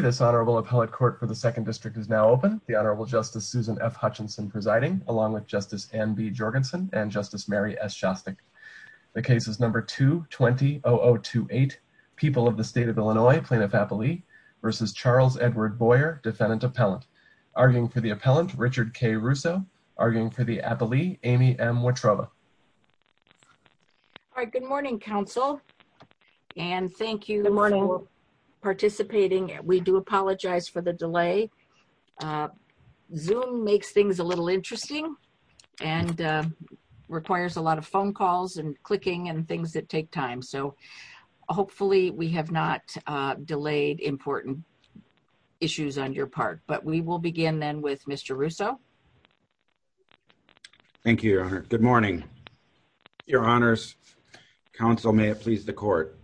This honorable appellate court for the 2nd District is now open. The Honorable Justice Susan F. Hutchinson presiding, along with Justice Anne B. Jorgensen and Justice Mary S. Shostak. The case is number 220028, People of the State of Illinois, Plaintiff-Appellee v. Charles Edward Boyer, Defendant-Appellant. Arguing for the appellant, Richard K. Russo. Arguing for the appellee, Amy M. Watrova. All right, good morning, counsel. And thank you for participating. We do apologize for the delay. Zoom makes things a little interesting and requires a lot of phone calls and clicking and things that take time. So hopefully we have not delayed important issues on your part. But we will begin then with Mr. Russo. Thank you, Your Honor. Good morning. Your Honors, counsel, may it please the court.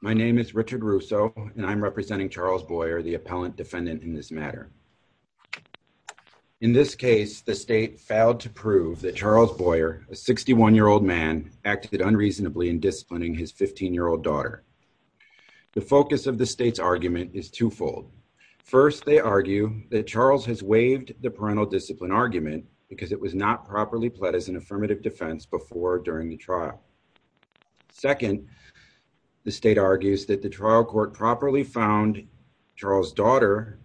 My name is Richard Russo, and I'm representing Charles Boyer, the appellant defendant in this matter. In this case, the state failed to prove that Charles Boyer, a 61-year-old man, acted unreasonably in disciplining his 15-year-old daughter. The focus of the state's argument is twofold. First they argue that Charles has waived the parental discipline argument because it was not properly pled as an affirmative defense before or during the trial. Second, the state argues that the trial court properly found Charles' daughter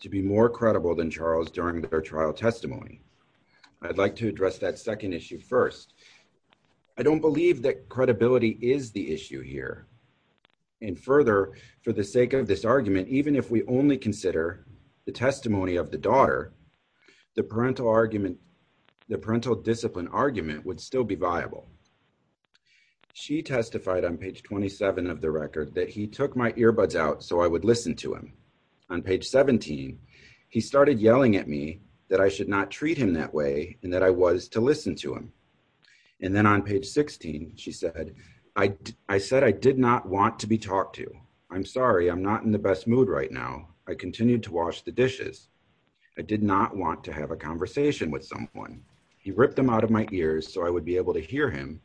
to be more credible than Charles during their trial testimony. I'd like to address that second issue first. I don't believe that credibility is the issue here. And further, for the sake of this argument, even if we only consider the testimony of the daughter, the parental discipline argument would still be viable. She testified on page 27 of the record that he took my earbuds out so I would listen to him. On page 17, he started yelling at me that I should not treat him that way and that I was to listen to him. And then on page 16, she said, I said I did not want to be talked to. I'm sorry. I'm not in the best mood right now. I continued to wash the dishes. I did not want to have a conversation with someone. He ripped them out of my ears so I would be able to hear him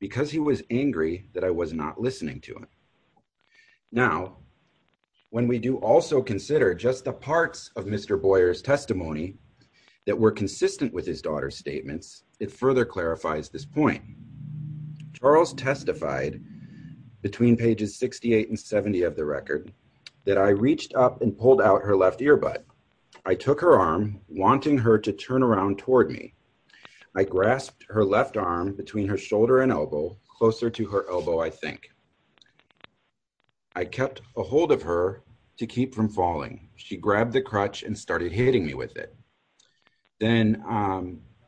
because he was angry that I was not listening to him. Now, when we do also consider just the parts of Mr. Boyer's testimony that were consistent with his daughter's statements, it further clarifies this point. Charles testified between pages 68 and 70 of the record that I reached up and pulled out her left earbud. I took her arm, wanting her to turn around toward me. I grasped her left arm between her shoulder and elbow, closer to her elbow, I think. I kept a hold of her to keep from falling. She grabbed the crutch and started hitting me with it. Then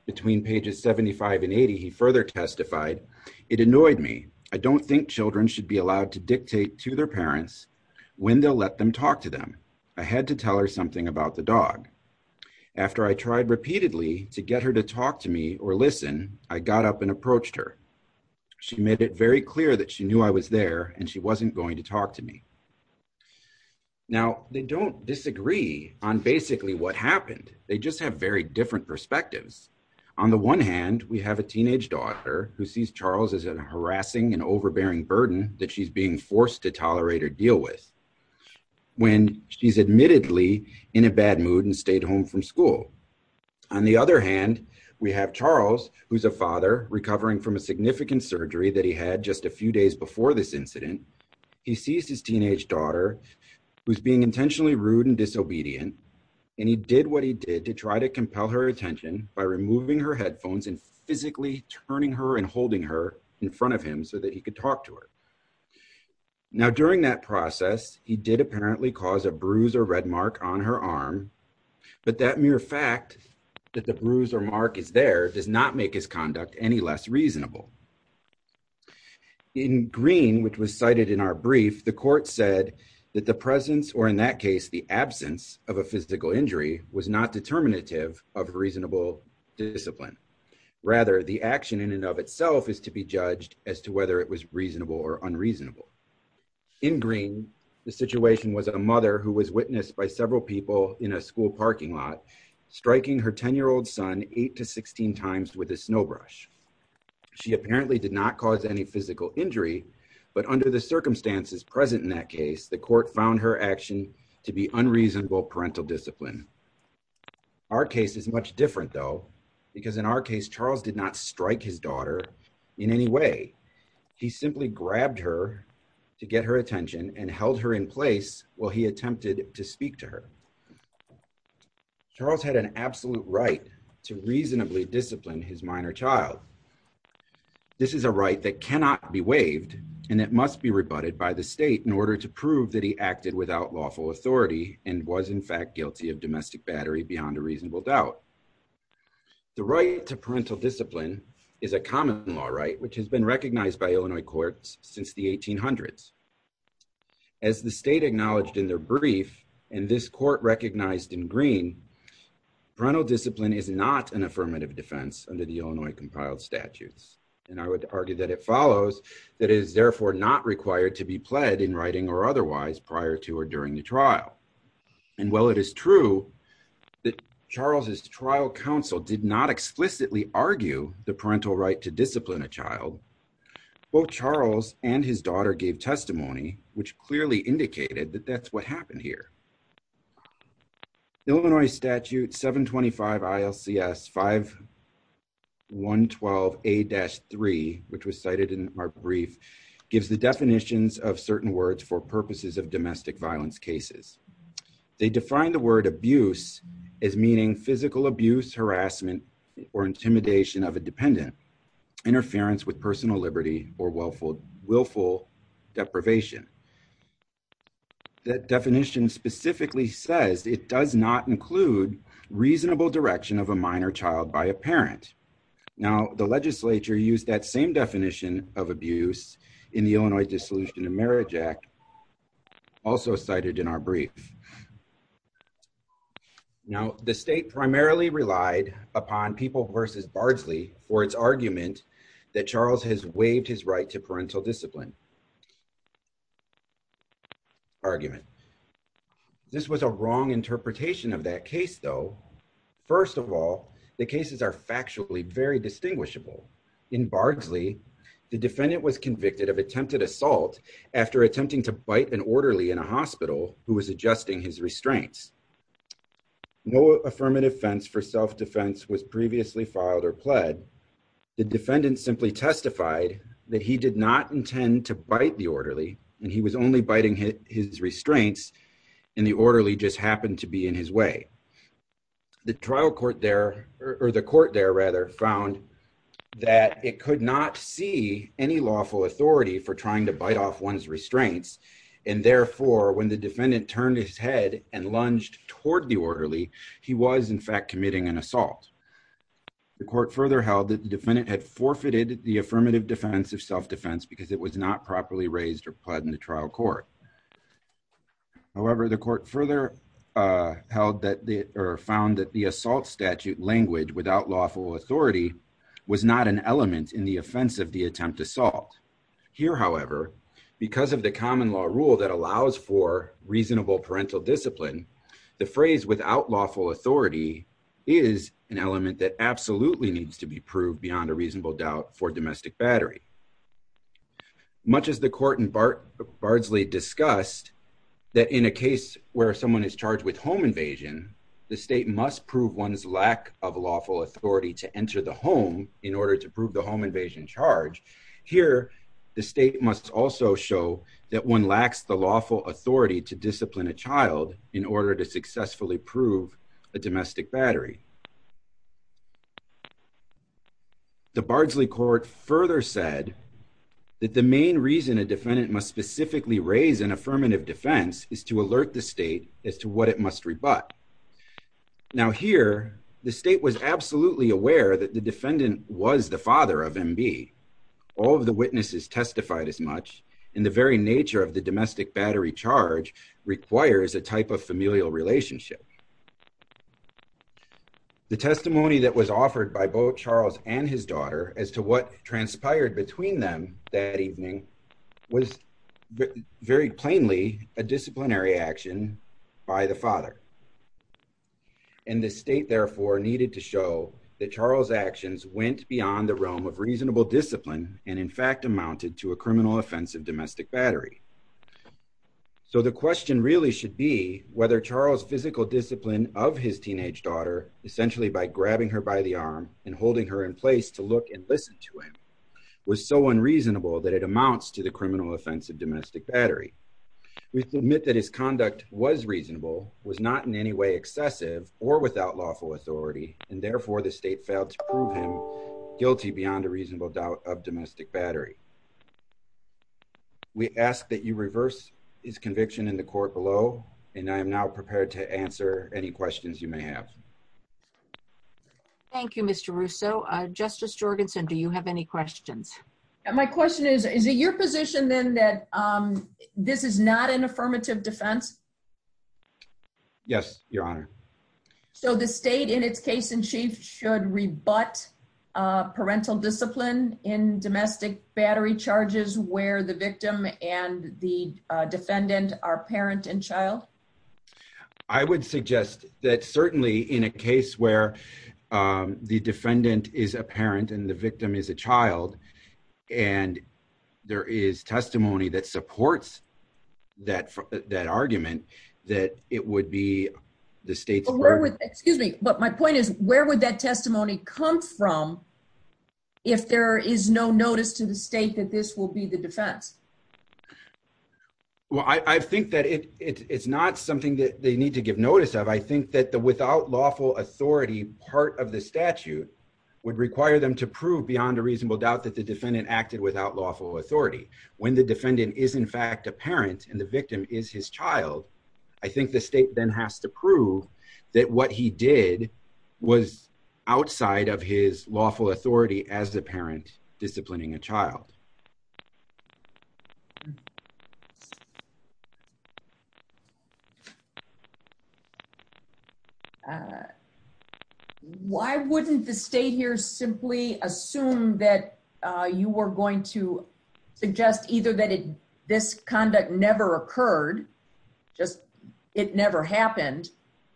between pages 75 and 80, he further testified, it annoyed me. I don't think children should be allowed to dictate to their parents when they'll let them talk to them. I had to tell her something about the dog. After I tried repeatedly to get her to talk to me or listen, I got up and approached her. She made it very clear that she knew I was there and she wasn't going to talk to me. Now, they don't disagree on basically what happened. They just have very different perspectives. On the one hand, we have a teenage daughter who sees Charles as a harassing and overbearing burden that she's being forced to tolerate or deal with when she's admittedly in a bad mood and stayed home from school. On the other hand, we have Charles, who's a father recovering from a significant surgery that he had just a few days before this incident. He sees his teenage daughter who's being intentionally rude and disobedient, and he did what he did to try to compel her attention by removing her headphones and physically turning her and holding her in front of him so that he could talk to her. Now, during that process, he did apparently cause a bruise or red mark on her arm, but that mere fact that the bruise or mark is there does not make his conduct any less reasonable. In Green, which was cited in our brief, the court said that the presence, or in that case, the absence of a physical injury was not determinative of reasonable discipline. Rather, the action in and of itself is to be judged as to whether it was reasonable or unreasonable. In Green, the situation was a mother who was witnessed by several people in a school parking lot striking her 10-year-old son 8 to 16 times with a snowbrush. She apparently did not cause any physical injury, but under the circumstances present in that case, the court found her action to be unreasonable parental discipline. Our case is much different, though, because in our case, Charles did not strike his daughter in any way. He simply grabbed her to get her attention and held her in place while he attempted to speak to her. Charles had an absolute right to reasonably discipline his minor child. This is a right that cannot be waived and that must be rebutted by the state in order to prove that he acted without lawful authority and was, in fact, guilty of domestic battery beyond a reasonable doubt. The right to parental discipline is a common law right, which has been recognized by Illinois courts since the 1800s. As the state acknowledged in their brief, and this court recognized in Green, parental child statutes, and I would argue that it follows, that it is therefore not required to be pled in writing or otherwise prior to or during the trial. And while it is true that Charles' trial counsel did not explicitly argue the parental right to discipline a child, both Charles and his daughter gave testimony, which clearly indicated that that's what happened here. Illinois Statute 725 ILCS 5112A-3, which was cited in our brief, gives the definitions of certain words for purposes of domestic violence cases. They define the word abuse as meaning physical abuse, harassment, or intimidation of a dependent, interference with personal liberty, or willful deprivation. That definition specifically says it does not include reasonable direction of a minor child by a parent. Now the legislature used that same definition of abuse in the Illinois Dissolution of Marriage Act, also cited in our brief. Now the state primarily relied upon People v. Bardsley for its argument that Charles has waived his right to parental discipline argument. This was a wrong interpretation of that case, though. First of all, the cases are factually very distinguishable. In Bardsley, the defendant was convicted of attempted assault after attempting to bite an orderly in a hospital who was adjusting his restraints. No affirmative offense for self-defense was previously filed or pled. The defendant simply testified that he did not intend to bite the orderly, and he was only biting his restraints, and the orderly just happened to be in his way. The trial court there, or the court there, rather, found that it could not see any lawful authority for trying to bite off one's restraints, and therefore, when the defendant turned his head and lunged toward the orderly, he was, in fact, committing an assault. The court further held that the defendant had forfeited the affirmative defense of self-defense because it was not properly raised or pled in the trial court. However, the court further found that the assault statute language, without lawful authority, was not an element in the offense of the attempt to assault. Here, however, because of the common law rule that allows for reasonable parental discipline, the phrase without lawful authority is an element that absolutely needs to be proved beyond a reasonable doubt for domestic battery. Much as the court in Bardsley discussed that in a case where someone is charged with home invasion, the state must prove one's lack of lawful authority to enter the home in order to prove the home invasion charge, here, the state must also show that one lacks the lawful authority to discipline a child in order to successfully prove a domestic battery. The Bardsley court further said that the main reason a defendant must specifically raise an affirmative defense is to alert the state as to what it must rebut. Now, here, the state was absolutely aware that the defendant was the father of MB. All of the witnesses testified as much, and the very nature of the domestic battery charge requires a type of familial relationship. The testimony that was offered by both Charles and his daughter as to what transpired between them that evening was very plainly a disciplinary action by the father. And the state, therefore, needed to show that Charles' actions went beyond the realm of reasonable discipline and, in fact, amounted to a criminal offense of domestic battery. So, the question really should be whether Charles' physical discipline of his teenage daughter, essentially by grabbing her by the arm and holding her in place to look and listen to him, was so unreasonable that it amounts to the criminal offense of domestic battery. We submit that his conduct was reasonable, was not in any way excessive or without lawful authority, and, therefore, the state failed to prove him guilty beyond a reasonable doubt of domestic battery. We ask that you reverse his conviction in the court below, and I am now prepared to answer any questions you may have. Thank you, Mr. Russo. Justice Jorgensen, do you have any questions? My question is, is it your position, then, that this is not an affirmative defense? Yes, Your Honor. So, the state, in its case-in-chief, should rebut parental discipline in domestic battery charges where the victim and the defendant are parent and child? I would suggest that, certainly, in a case where the defendant is a parent and the victim is a child, I think the state then has to prove that the defendant acted without lawful authority. When the defendant is, in fact, a parent and the victim is his child, I think the state then has to prove that what he did was outside of his lawful authority as the parent disciplining a child. Why wouldn't the state here simply assume that you were going to suggest either that this conduct never occurred, just it never happened,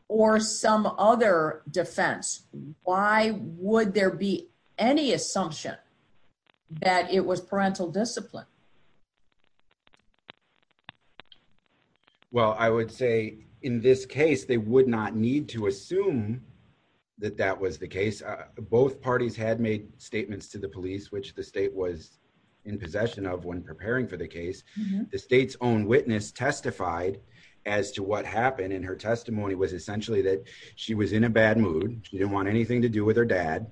or some other defense? Why would there be any assumption that it was parental discipline? Well, I would say, in this case, they would not need to assume that that was the case. Both parties had made statements to the police, which the state was in possession of when preparing for the case. The state's own witness testified as to what happened, and her testimony was essentially that she was in a bad mood, she didn't want anything to do with her dad,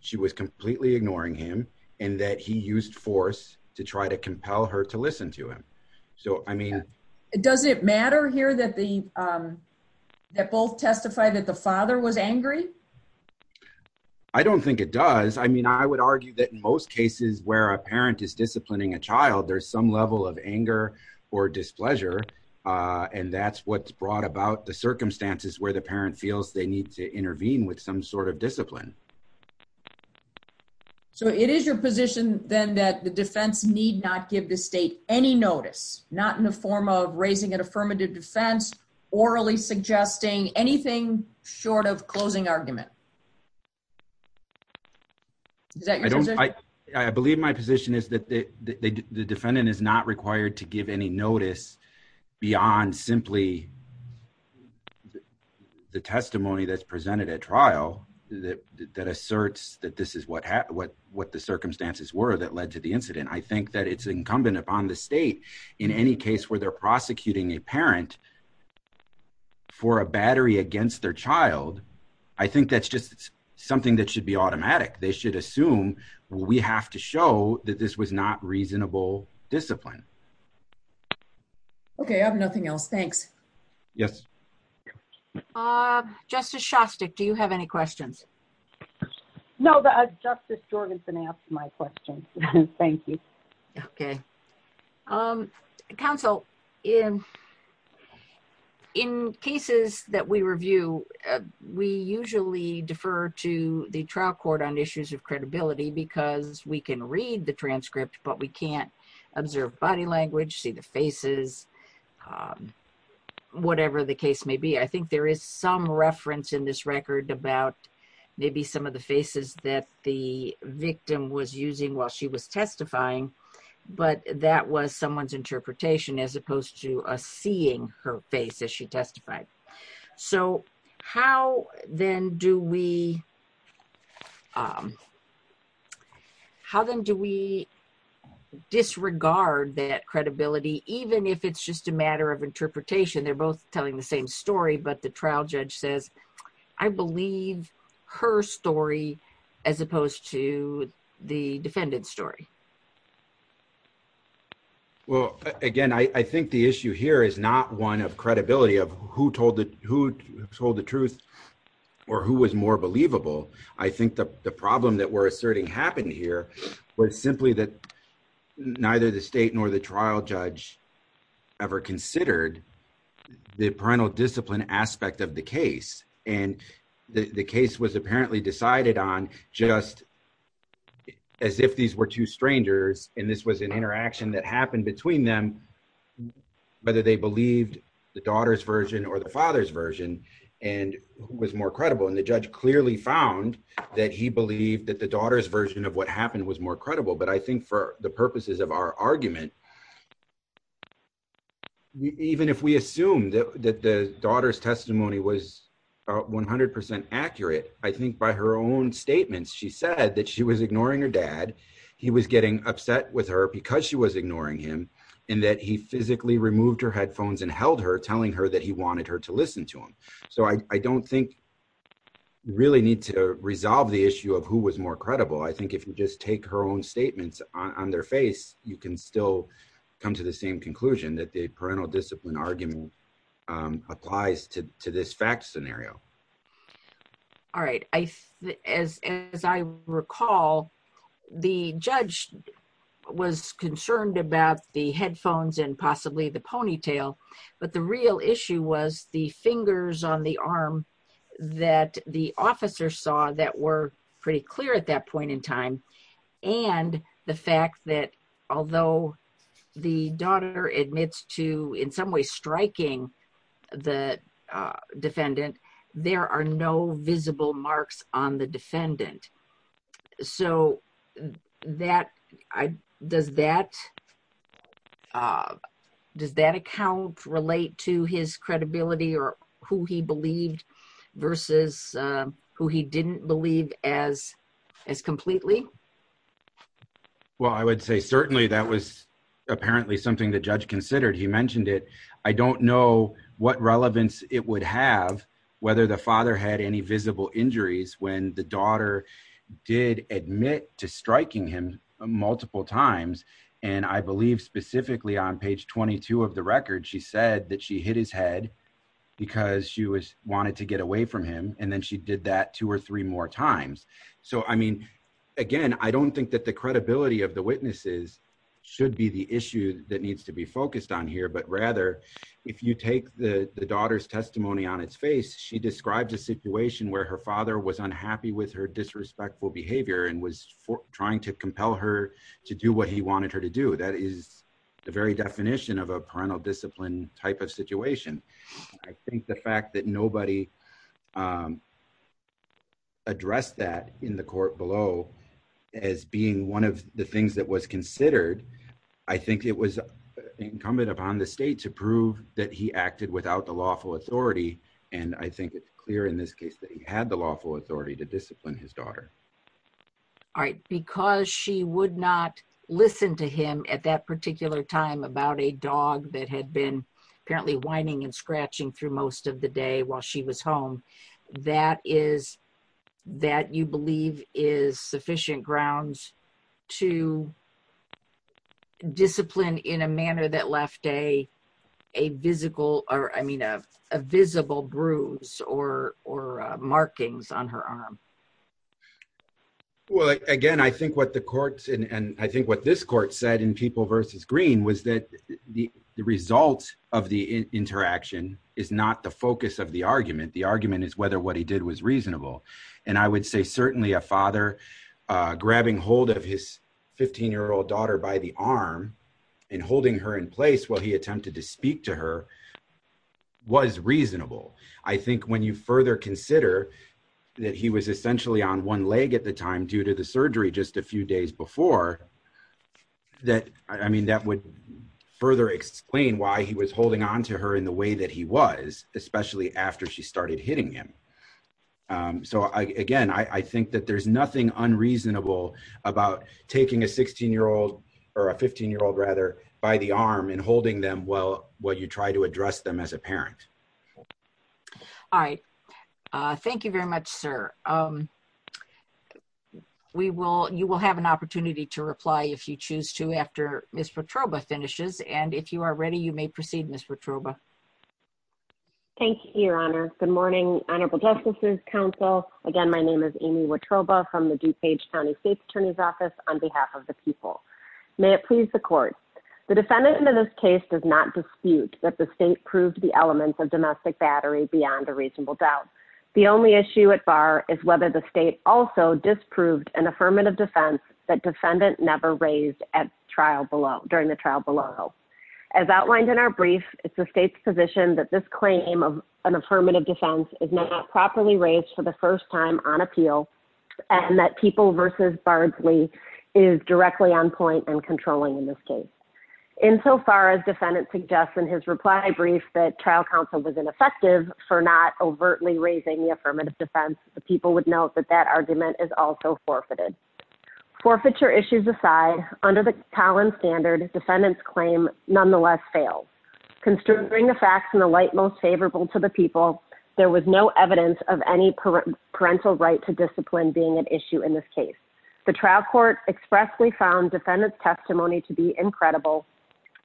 she was completely ignoring him, and that he used force to try to compel her to listen to him. Does it matter here that both testified that the father was angry? I don't think it does. I mean, I would argue that in most cases where a parent is disciplining a child, there's some level of anger or displeasure, and that's what's brought about the circumstances where the parent feels they need to intervene with some sort of discipline. So it is your position, then, that the defense need not give the state any notice, not in the form of raising an affirmative defense, orally suggesting anything short of closing argument? Is that your position? I believe my position is that the defendant is not required to give any notice beyond simply the testimony that's presented at trial that asserts that this is what the circumstances were that led to the incident. I think that it's incumbent upon the state in any case where they're child, I think that's just something that should be automatic. They should assume, we have to show that this was not reasonable discipline. Okay, I have nothing else. Thanks. Yes. Justice Shostak, do you have any questions? No, Justice Jorgenson asked my question. Thank you. Okay. Counsel, in cases that we review, we usually defer to the trial court on issues of credibility because we can read the transcript, but we can't observe body language, see the faces, whatever the case may be. I think there is some reference in this record about maybe some of the faces that the victim was using while she was testifying, but that was someone's interpretation as opposed to us seeing her face as she testified. How then do we disregard that credibility, even if it's just a matter of interpretation? They're telling the same story, but the trial judge says, I believe her story as opposed to the defendant's story. Well, again, I think the issue here is not one of credibility of who told the truth or who was more believable. I think the problem that we're asserting happened here where it's simply that neither the state nor the trial judge ever considered the parental discipline aspect of the case. The case was apparently decided on just as if these were two strangers and this was an interaction that happened between them, whether they believed the daughter's version or the father's version and who was more credible. The judge clearly found that he believed that the daughter's version of what happened was more credible, but I think for the purposes of our argument, even if we assume that the daughter's testimony was 100% accurate, I think by her own statements, she said that she was ignoring her dad. He was getting upset with her because she was ignoring him and that he physically removed her headphones and held her telling her that he wanted her to really need to resolve the issue of who was more credible. I think if you just take her own statements on their face, you can still come to the same conclusion that the parental discipline argument applies to this fact scenario. All right. As I recall, the judge was concerned about the headphones and possibly the ponytail, but the real issue was the fingers on the arm that the officer saw that were pretty clear at that point in time and the fact that although the daughter admits to in some way striking the defendant, there are no visible marks on the defendant. Does that account relate to his credibility or who he believed versus who he didn't believe as completely? Well, I would say certainly that was apparently something the judge considered. He mentioned it. I don't know what relevance it would have whether the father had any visible injuries when the daughter did admit to striking him multiple times. I believe specifically on page 22 of the record, she said that she hit his head because she wanted to get away from him. Then she did that two or three more times. Again, I don't think that the credibility of the witnesses should be the issue that needs to be described. She described a situation where her father was unhappy with her disrespectful behavior and was trying to compel her to do what he wanted her to do. That is the very definition of a parental discipline type of situation. I think the fact that nobody addressed that in the court below as being one of the things that was considered, I think it was incumbent upon the state to prove that he acted without the lawful authority. I think it's clear in this case that he had the lawful authority to discipline his daughter. Because she would not listen to him at that particular time about a dog that had been apparently whining and scratching through most of the day while she was home, that you believe is sufficient grounds to discipline in a manner that left a visible bruise or markings on her arm. Well, again, I think what the courts and I think what this court said in People versus Green was that the result of the interaction is not the focus of the argument. The argument is whether what he did was reasonable. I would say certainly a father grabbing hold of his 15-year-old daughter by the arm and holding her in place while he attempted to speak to her was reasonable. I think when you further consider that he was essentially on one leg at the time due to the surgery just a few days before, that I mean that would further explain why he was holding on to her in the way that he was, especially after she started hitting him. So again, I think that there's nothing unreasonable about taking a 16-year-old or a 15-year-old, rather, by the arm and holding them while you try to address them as a parent. All right. Thank you very much, sir. You will have an opportunity to reply if you choose to after Ms. Watroba finishes. And if you are ready, you may proceed, Ms. Watroba. Thank you, Your Honor. Good morning, Honorable Justices Council. Again, my name is Amy Watroba from the DuPage County State Attorney's Office on behalf of the people. May it please the Court. The defendant in this case does not dispute that the state proved the elements of domestic battery beyond a reasonable doubt. The only issue at bar is whether the state also disproved an affirmative defense that defendant never raised during the trial below. As outlined in our brief, it's the state's position that this claim of an affirmative defense is not properly raised for the first time on appeal and that People v. Bardsley is directly on point and controlling in this case. Insofar as defendant suggests in his reply brief that trial counsel was ineffective for not overtly raising the affirmative defense, the people would note that that argument is also forfeited. Forfeiture issues aside, under the Collins standard, defendant's claim nonetheless fails. Considering the facts in the light most favorable to the people, there was no evidence of any parental right to discipline being an issue in this case. The trial court expressly found defendant's testimony to be incredible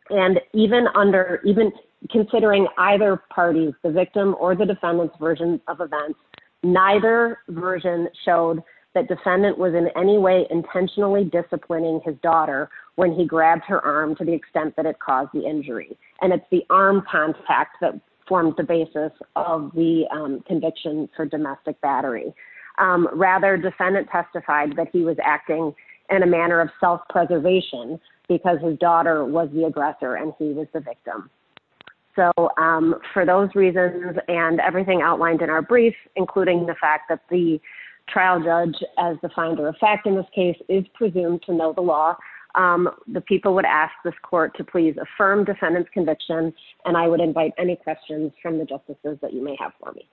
and even under even considering either parties, the victim or the defendant's version of events, neither version showed that defendant was in any way intentionally disciplining his daughter when he grabbed her arm to the extent that it caused the injury. And it's the arm contact that formed the basis of the conviction for domestic battery. Rather, defendant testified that he was acting in a manner of self-preservation because his daughter was the aggressor and he was the victim. So for those reasons and everything outlined in our brief, including the fact that the trial judge as the finder of fact in this case is presumed to affirm defendant's conviction and I would invite any questions from the justices that you may have for me.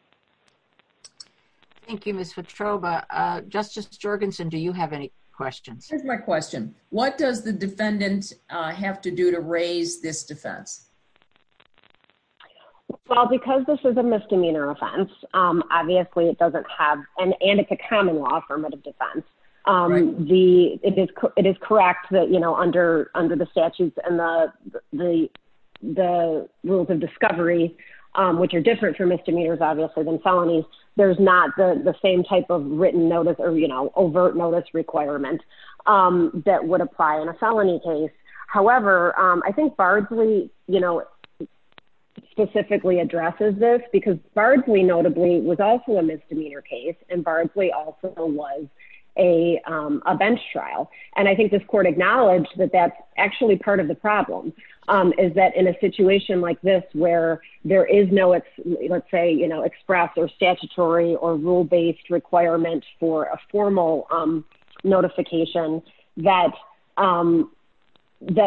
Thank you, Ms. Petrova. Justice Jorgensen, do you have any questions? Here's my question. What does the defendant have to do to raise this defense? Well, because this is a misdemeanor offense, obviously it doesn't have an under the statutes and the rules of discovery, which are different for misdemeanors, obviously, than felonies. There's not the same type of written notice or, you know, overt notice requirement that would apply in a felony case. However, I think Bardsley, you know, specifically addresses this because Bardsley notably was also a misdemeanor case and Bardsley also was a bench trial. And I think this court acknowledged that that's actually part of the problem is that in a situation like this, where there is no, let's say, you know, express or statutory or rule based requirements for a formal notification that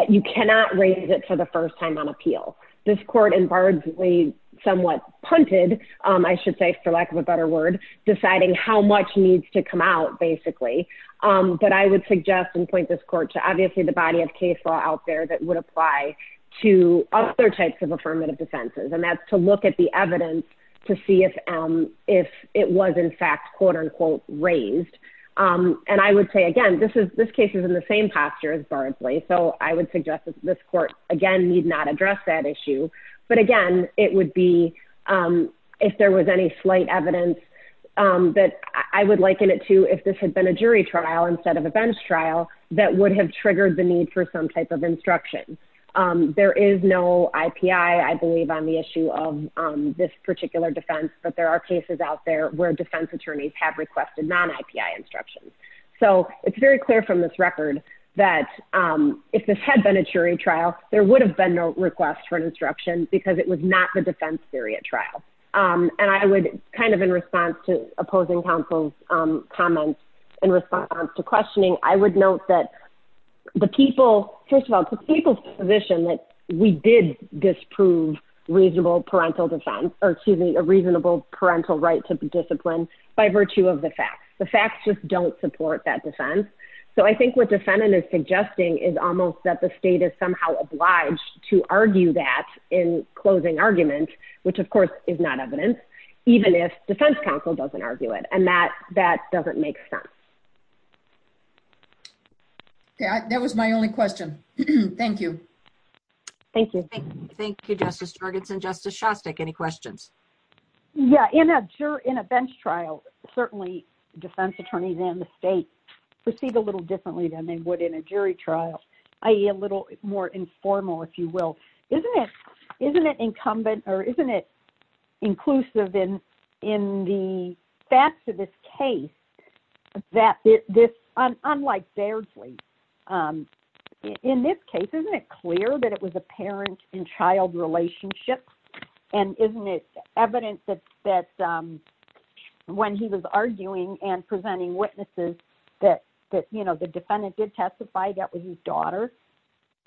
you cannot raise it for the first time on appeal. This court and Bardsley somewhat punted, I should say, for lack of a better word, deciding how much needs to come out, basically. But I would suggest and point this court to obviously the body of case law out there that would apply to other types of affirmative defenses. And that's to look at the evidence to see if it was in fact, quote unquote, raised. And I would say, again, this case is in the same posture as Bardsley. So I would suggest that this that I would liken it to if this had been a jury trial instead of a bench trial, that would have triggered the need for some type of instruction. There is no IPI, I believe, on the issue of this particular defense. But there are cases out there where defense attorneys have requested non-IPI instructions. So it's very clear from this record that if this had been a jury trial, there would have been no request for an instruction because it was not the defense theory at trial. And I would kind of in response to opposing counsel's comments, in response to questioning, I would note that the people, first of all, the people's position that we did disprove a reasonable parental right to discipline by virtue of the facts. The facts just don't support that defense. So I think what defendant is suggesting is almost that the state is somehow obliged to argue that in closing argument, which of course is not evidence, even if defense counsel doesn't argue it. And that doesn't make sense. Yeah, that was my only question. Thank you. Thank you. Thank you, Justice Jorgensen. Justice Shostak, any questions? Yeah, in a bench trial, certainly defense attorneys and the state proceed a little differently than they would in a jury trial, i.e. a little more informal, if you will. Isn't it incumbent or isn't it inclusive in the facts of this case, that this, unlike Bairdley, in this case, isn't it clear that it was apparent in child relationships? And isn't it evidence that when he was arguing and presenting witnesses, that the defendant did testify that was his daughter,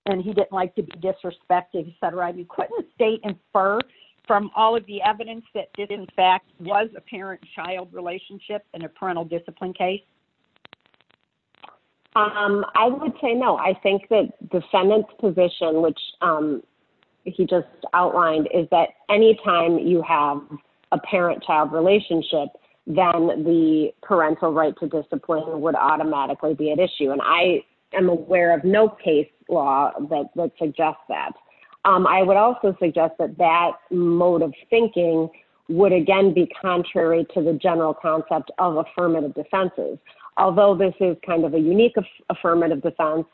and he didn't like to be disrespected, etc. You couldn't state and infer from all of the evidence that it in fact was apparent child relationship in a parental discipline case? I would say no. I think that defendant's position, which he just outlined, is that anytime you have a parent-child relationship, then the parental right to discipline would automatically be at issue. And I am aware of no case law that suggests that. I would also suggest that that mode of thinking would again be contrary to the general concept of affirmative defenses. Although this is kind of a unique affirmative defense,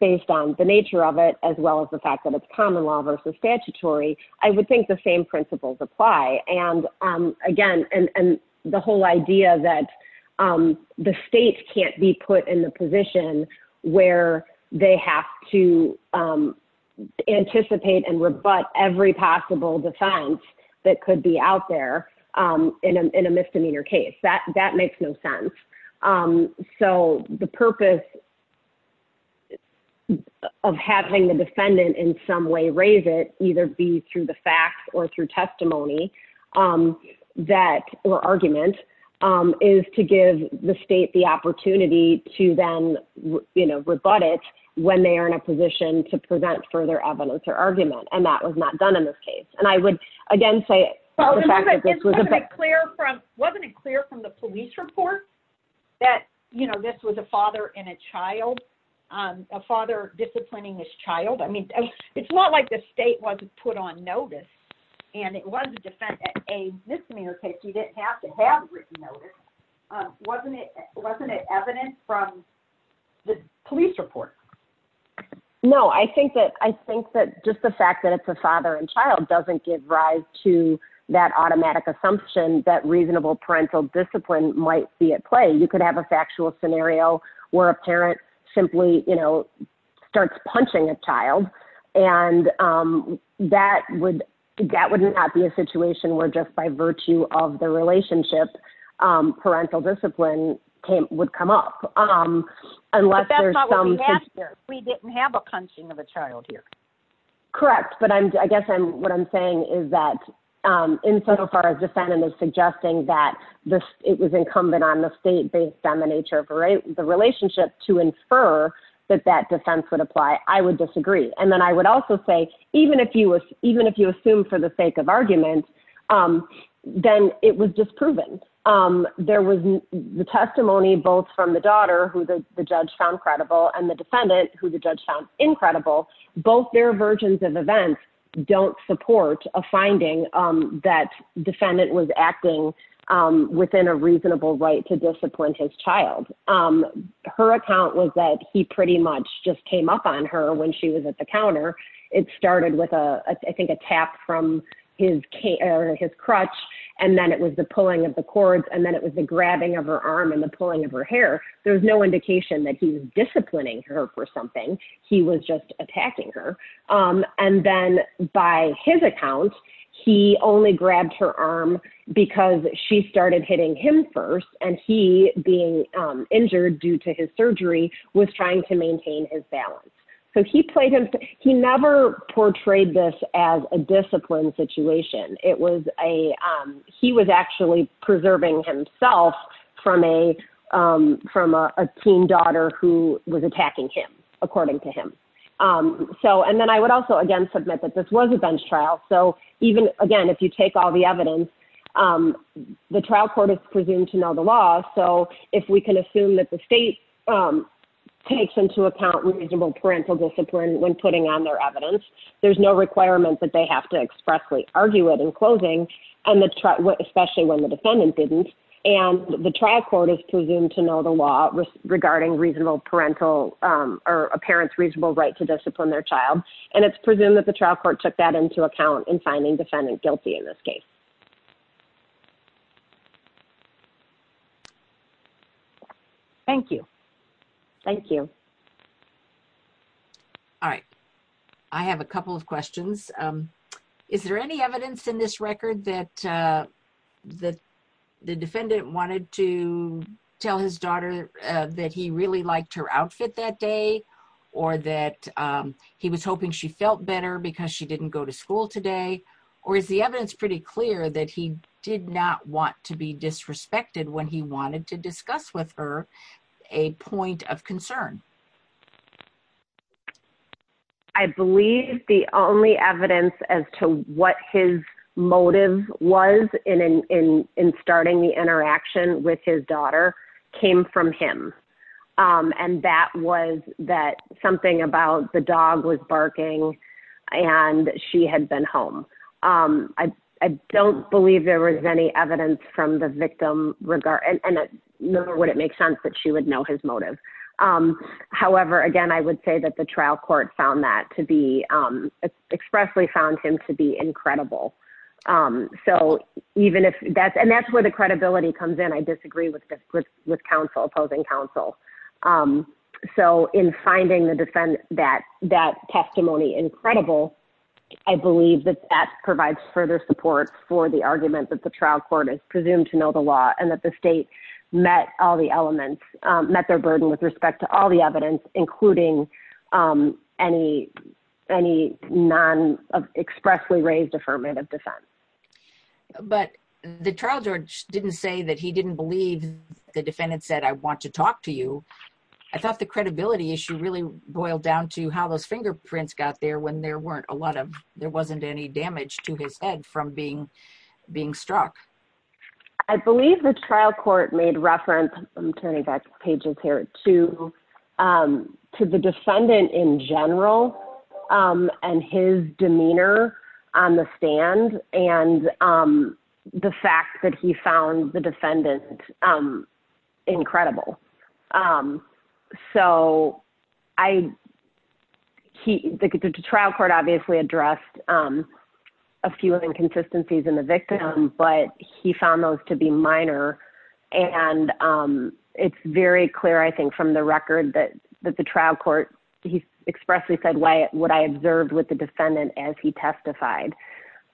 based on the nature of it, as well as the fact that it's common law versus statutory, I would think the same principles apply. And again, and the whole idea that the state can't be put in the position where they have to anticipate and rebut every possible defense that could be out there in a misdemeanor case. That makes no sense. So the purpose of having the defendant in some way raise it, either be through the facts or through testimony that, or argument, is to give the state the opportunity to then, you know, rebut it when they are in a position to present further evidence or argument. And that was not done in this case. And I would, again, say the fact that this was- Wasn't it clear from the police report that, you know, this was a father and a child, a father disciplining his child? I mean, it's not like the state wasn't put on notice and it was a misdemeanor case, you didn't have to have written notice. Wasn't it evident from the police report? No, I think that just the fact that it's a father and child doesn't give rise to that automatic assumption that reasonable parental discipline might be at play. You could have a factual scenario where a parent simply, you know, starts punching a child. And that would not be a situation where just by virtue of the relationship, parental discipline would come up. But that's not what we have here. We didn't have a punching of a child here. Correct. But I guess what I'm saying is that in so far as defendant is suggesting that this, it was incumbent on the state based on the nature of the relationship to infer that that defense would apply, I would disagree. And then I would also say, even if you assume for the sake of argument, then it was disproven. There was the testimony both from the daughter who the judge found credible and the defendant who the judge found incredible. Both their versions of events don't support a finding that defendant was acting within a reasonable right to discipline his child. Her account was that he pretty much just came up on her when she was at the counter. It started with, I think, a tap from his crutch. And then it was the pulling of the cords. And then it was the grabbing of her arm and the pulling of her hair. There was no indication that he was disciplining her for something. He was just attacking her. And then by his account, he only grabbed her arm because she started hitting him first and he, being injured due to his surgery, was trying to maintain his balance. So he played himself. He never portrayed this as a discipline situation. It was a, he was actually preserving himself from a teen daughter who was attacking him, according to him. So, and then I would also, again, submit that this was a bench trial. So even, again, if you take all the evidence, the trial court is presumed to know the law. So if we can assume that the state takes into account reasonable parental discipline when putting on their evidence, there's no requirement that they have to expressly argue it in closing, and especially when the defendant didn't. And the trial court is presumed to know the law regarding reasonable parental or a parent's reasonable right to discipline their child. And it's presumed that the trial court took that into account in finding defendant guilty in this case. Thank you. Thank you. All right. I have a couple of questions. Is there any evidence in this record that the defendant wanted to tell his daughter that he really liked her outfit that day, or that he was hoping she felt better because she didn't go to school today? Or is the evidence pretty clear that he did not want to be disrespected when he wanted to discuss with her a point of concern? I believe the only evidence as to what his motive was in starting the interaction with his daughter came from him. And that was that something about the dog was barking and she had been home. I don't believe there was any regard, nor would it make sense that she would know his motive. However, again, I would say that the trial court found that to be expressly found him to be incredible. So even if that's and that's where the credibility comes in, I disagree with counsel opposing counsel. So in finding the defendant that that testimony incredible, I believe that that provides further support for the argument that the trial court is presumed to know the law and that the state met all the elements met their burden with respect to all the evidence, including any, any non expressly raised affirmative defense. But the trial judge didn't say that he didn't believe the defendant said, I want to talk to you. I thought the credibility issue really boiled down to how those fingerprints got there when there weren't a lot of there I believe the trial court made reference, I'm turning back pages here to, to the defendant in general, and his demeanor on the stand, and the fact that he found the defendant incredible. So I keep the trial court obviously addressed a few of the inconsistencies in the victim, but he found those to be minor. And it's very clear, I think, from the record that that the trial court, he expressly said, why would I observed with the defendant as he testified.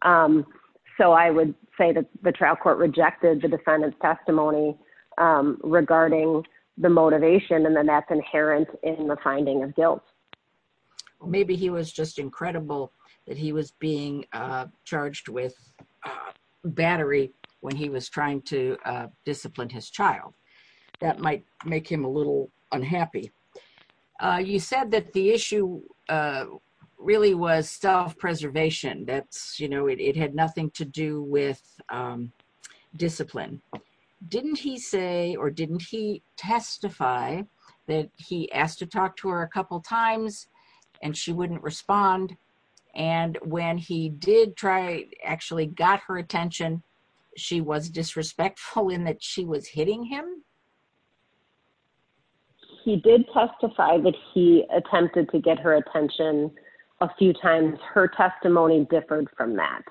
So I would say that the trial court rejected the defendant's testimony regarding the motivation, and then that's inherent in the finding of guilt. Or maybe he was just incredible that he was being charged with battery, when he was trying to discipline his child, that might make him a little unhappy. You said that the issue really was self preservation, that's, you know, it had nothing to do with discipline. Didn't he say or didn't he testify that he asked to talk to her a couple times, and she wouldn't respond. And when he did try actually got her attention, she was disrespectful in that she was hitting him. He did testify that he attempted to get her attention. A few times her testimony differed from that.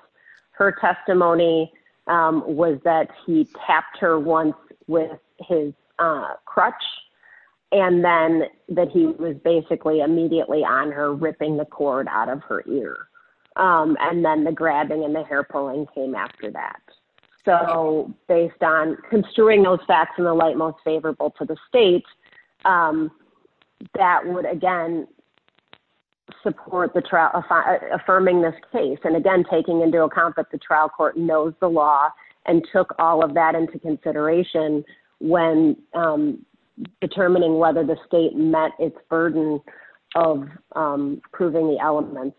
Her testimony was that he tapped her once with his crutch, and then that he was basically immediately on her ripping the cord out of her ear. And then the grabbing and the hair pulling came after that. So based on construing those facts in the light most taking into account that the trial court knows the law, and took all of that into consideration, when determining whether the state met its burden of proving the elements.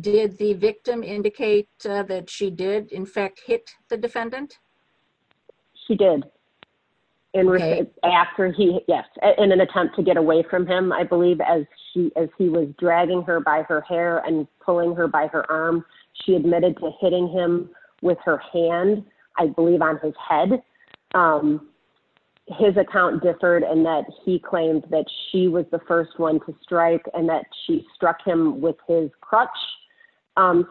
Did the victim indicate that she did in fact hit the defendant? She did. In an attempt to get away from him, I believe, as he was dragging her by her hair and pulling her by her arm, she admitted to hitting him with her hand, I believe on his head. His account differed and that he claimed that she was the first one to strike and that she struck him with his crutch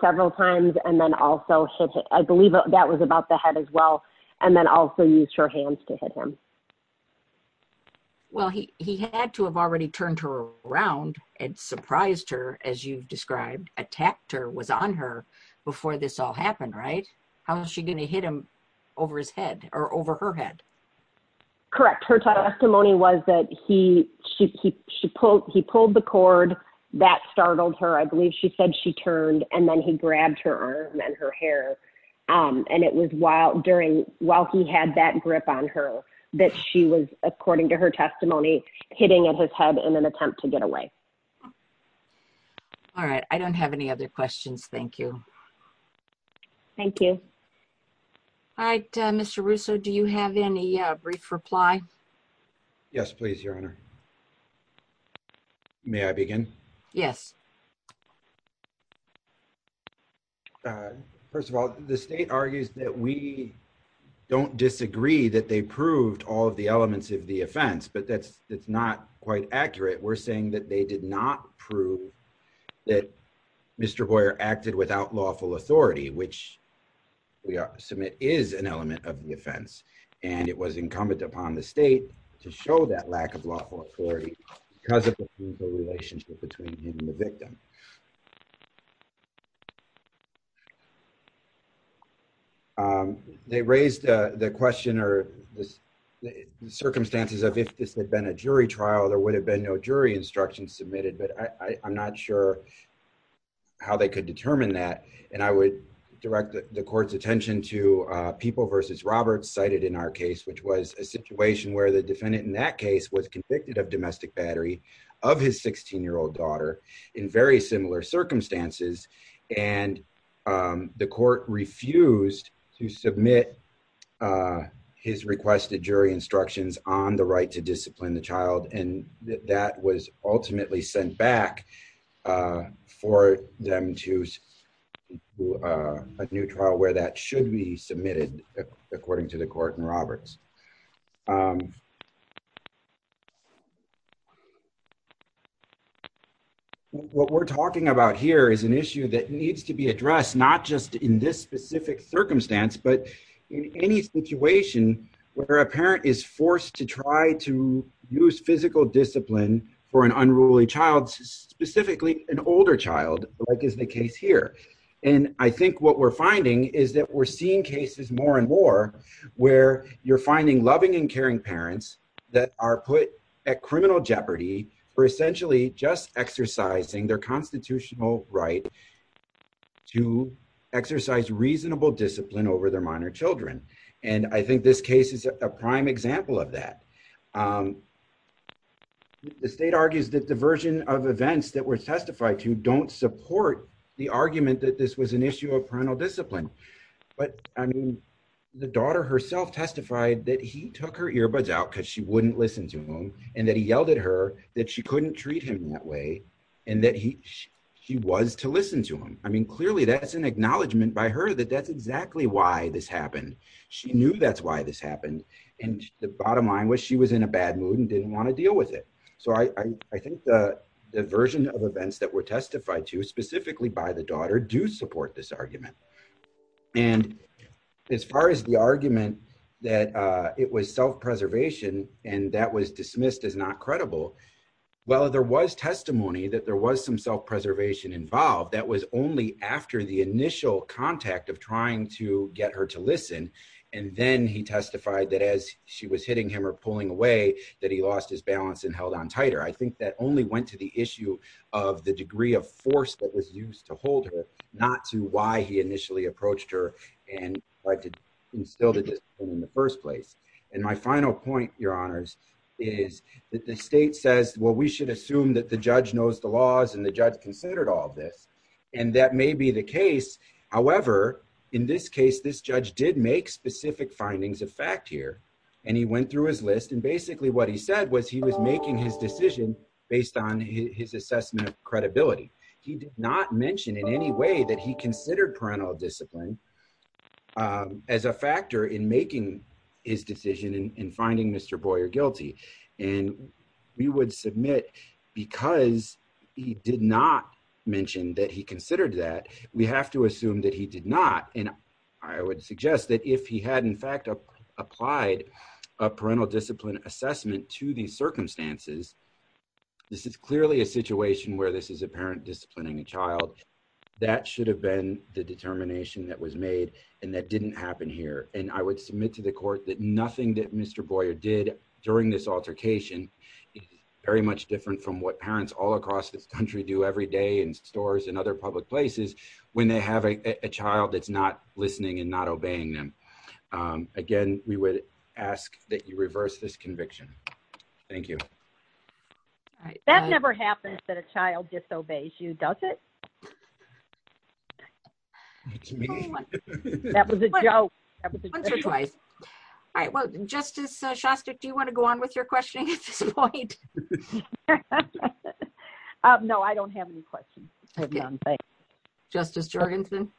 several times and then also hit, I believe that was about the head as well, and then also used her hands to hit him. Well, he had to have already turned her around and surprised her, as you've described, attacked her, was on her before this all happened, right? How was she going to hit him over his head or over her head? Correct. Her testimony was that he he pulled the cord that startled her, I believe she said she turned, and then he grabbed her arm and her hair. And it was while during while he had that grip on her that she was, according to her testimony, hitting at his head in an attempt to get away. All right, I don't have any other questions, thank you. Thank you. All right, Mr. Russo, do you have any brief reply? Yes, please, your honor. May I begin? Yes. First of all, the state argues that we don't disagree that they proved all of the elements of the offense, but that's not quite accurate. We're saying that they did not prove that Mr. Boyer acted without lawful authority, which we submit is an element of the offense, and it was incumbent upon the state to show that lack of lawful authority because of the relationship between him and the victim. They raised the question or the circumstances of if this had been a jury trial, there would have been no jury instructions submitted, but I'm not sure how they could determine that. And I would direct the court's attention to people versus Roberts cited in our case, which was a situation where the defendant in that case was convicted of domestic battery of his 16-year-old daughter in very similar circumstances, and the court refused to submit his requested jury instructions on the right to discipline the child, and that was ultimately sent back for them to a new trial where that should be submitted, according to the court and Roberts. What we're talking about here is an issue that needs to be addressed, not just in this specific circumstance, but in any situation where a parent is forced to try to use physical discipline for an unruly child, specifically an older child, like is the case here. And I think what we're finding is that we're seeing cases more and more where you're finding loving and caring parents, that are put at criminal jeopardy for essentially just exercising their constitutional right to exercise reasonable discipline over their minor children. And I think this case is a prime example of that. The state argues that the version of events that were testified to don't support the argument that this was an issue of parental discipline, but I mean, the daughter herself testified that he took her earbuds out because she wouldn't listen to him, and that he yelled at her that she couldn't treat him that way, and that he was to listen to him. I mean, clearly, that's an acknowledgement by her that that's exactly why this happened. She knew that's why this happened, and the bottom line was she was in a bad mood and didn't want to deal with it. So I think the version of events that were testified to, specifically by the daughter, do support this argument. And as far as the argument that it was self-preservation, and that was dismissed as not credible, well, there was testimony that there was some self-preservation involved. That was only after the initial contact of trying to get her to listen, and then he testified that as she was hitting him or pulling away, that he lost his balance and held on tighter. I think that only went to the issue of the degree of force that was used to hold her, not to why he initially approached her and tried to instill the discipline in the first place. And my final point, your honors, is that the state says, well, we should assume that the judge knows the laws and the judge considered all this, and that may be the case. However, in this case, this judge did make specific findings of fact here, and he went through his list, and basically what he said was he was making his decision based on his assessment of credibility. He did not mention in any way that he considered parental discipline as a factor in making his decision in finding Mr. Boyer guilty. And we would submit, because he did not mention that he considered that, we have to assume that he did not. And I would suggest that if he had, in fact, applied a parental discipline assessment to these circumstances, this is clearly a situation where this is a parent disciplining a child. That should have been the determination that was made, and that didn't happen here. And I would submit to the court that nothing that Mr. Boyer did during this altercation is very much different from what parents all across this country do every day in stores and other public places when they have a child that's not listening and not obeying them. Again, we would ask that you thank you. That never happens that a child disobeys you, does it? That was a joke. All right, well, Justice Shostak, do you want to go on with your questioning at this point? No, I don't have any questions. Justice Jorgensen.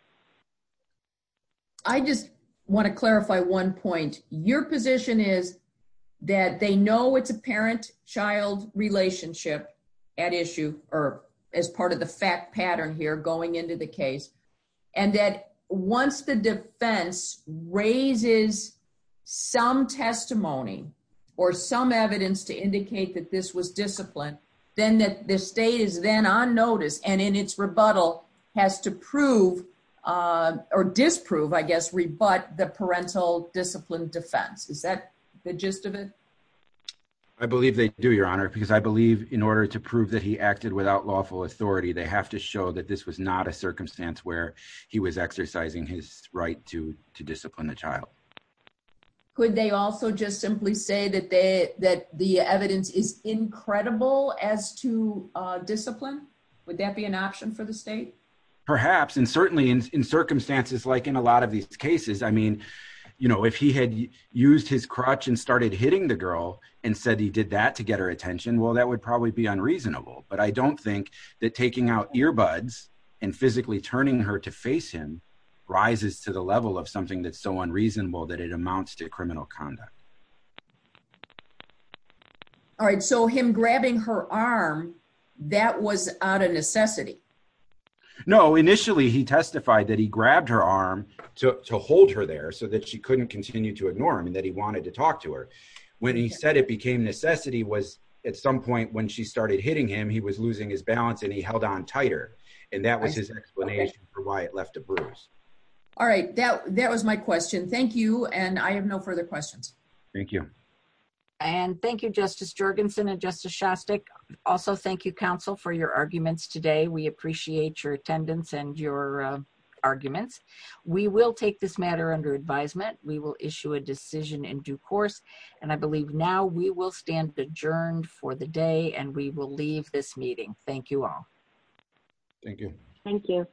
I just want to clarify one point. Your position is that they know it's a parent-child relationship at issue, or as part of the fact pattern here going into the case, and that once the defense raises some testimony or some evidence to indicate that this was disciplined, then the state is then on notice and in its rebuttal has to prove or disprove, I guess, rebut the parental discipline defense. Is that the gist of it? I believe they do, Your Honor, because I believe in order to prove that he acted without lawful authority, they have to show that this was not a circumstance where he was exercising his right to discipline the child. Could they also just simply say that the evidence is incredible as to discipline? Would that be an option for the state? Perhaps, and certainly in circumstances like in a lot of these cases. I mean, you know, if he had used his crutch and started hitting the girl and said he did that to get her attention, well, that would probably be unreasonable. But I don't think that taking out earbuds and physically turning her to face him rises to the level of something that's unreasonable that it amounts to criminal conduct. All right, so him grabbing her arm, that was out of necessity. No, initially he testified that he grabbed her arm to hold her there so that she couldn't continue to ignore him and that he wanted to talk to her. When he said it became necessity was at some point when she started hitting him, he was losing his balance and he held on tighter. And that was his explanation for why it left a bruise. All right, thank you. Thank you. And I have no further questions. Thank you. And thank you, Justice Jorgensen and Justice Shostak. Also, thank you, counsel, for your arguments today. We appreciate your attendance and your arguments. We will take this matter under advisement. We will issue a decision in due course. And I believe now we will stand adjourned for the day and we will leave this meeting. Thank you all. Thank you. Thank you.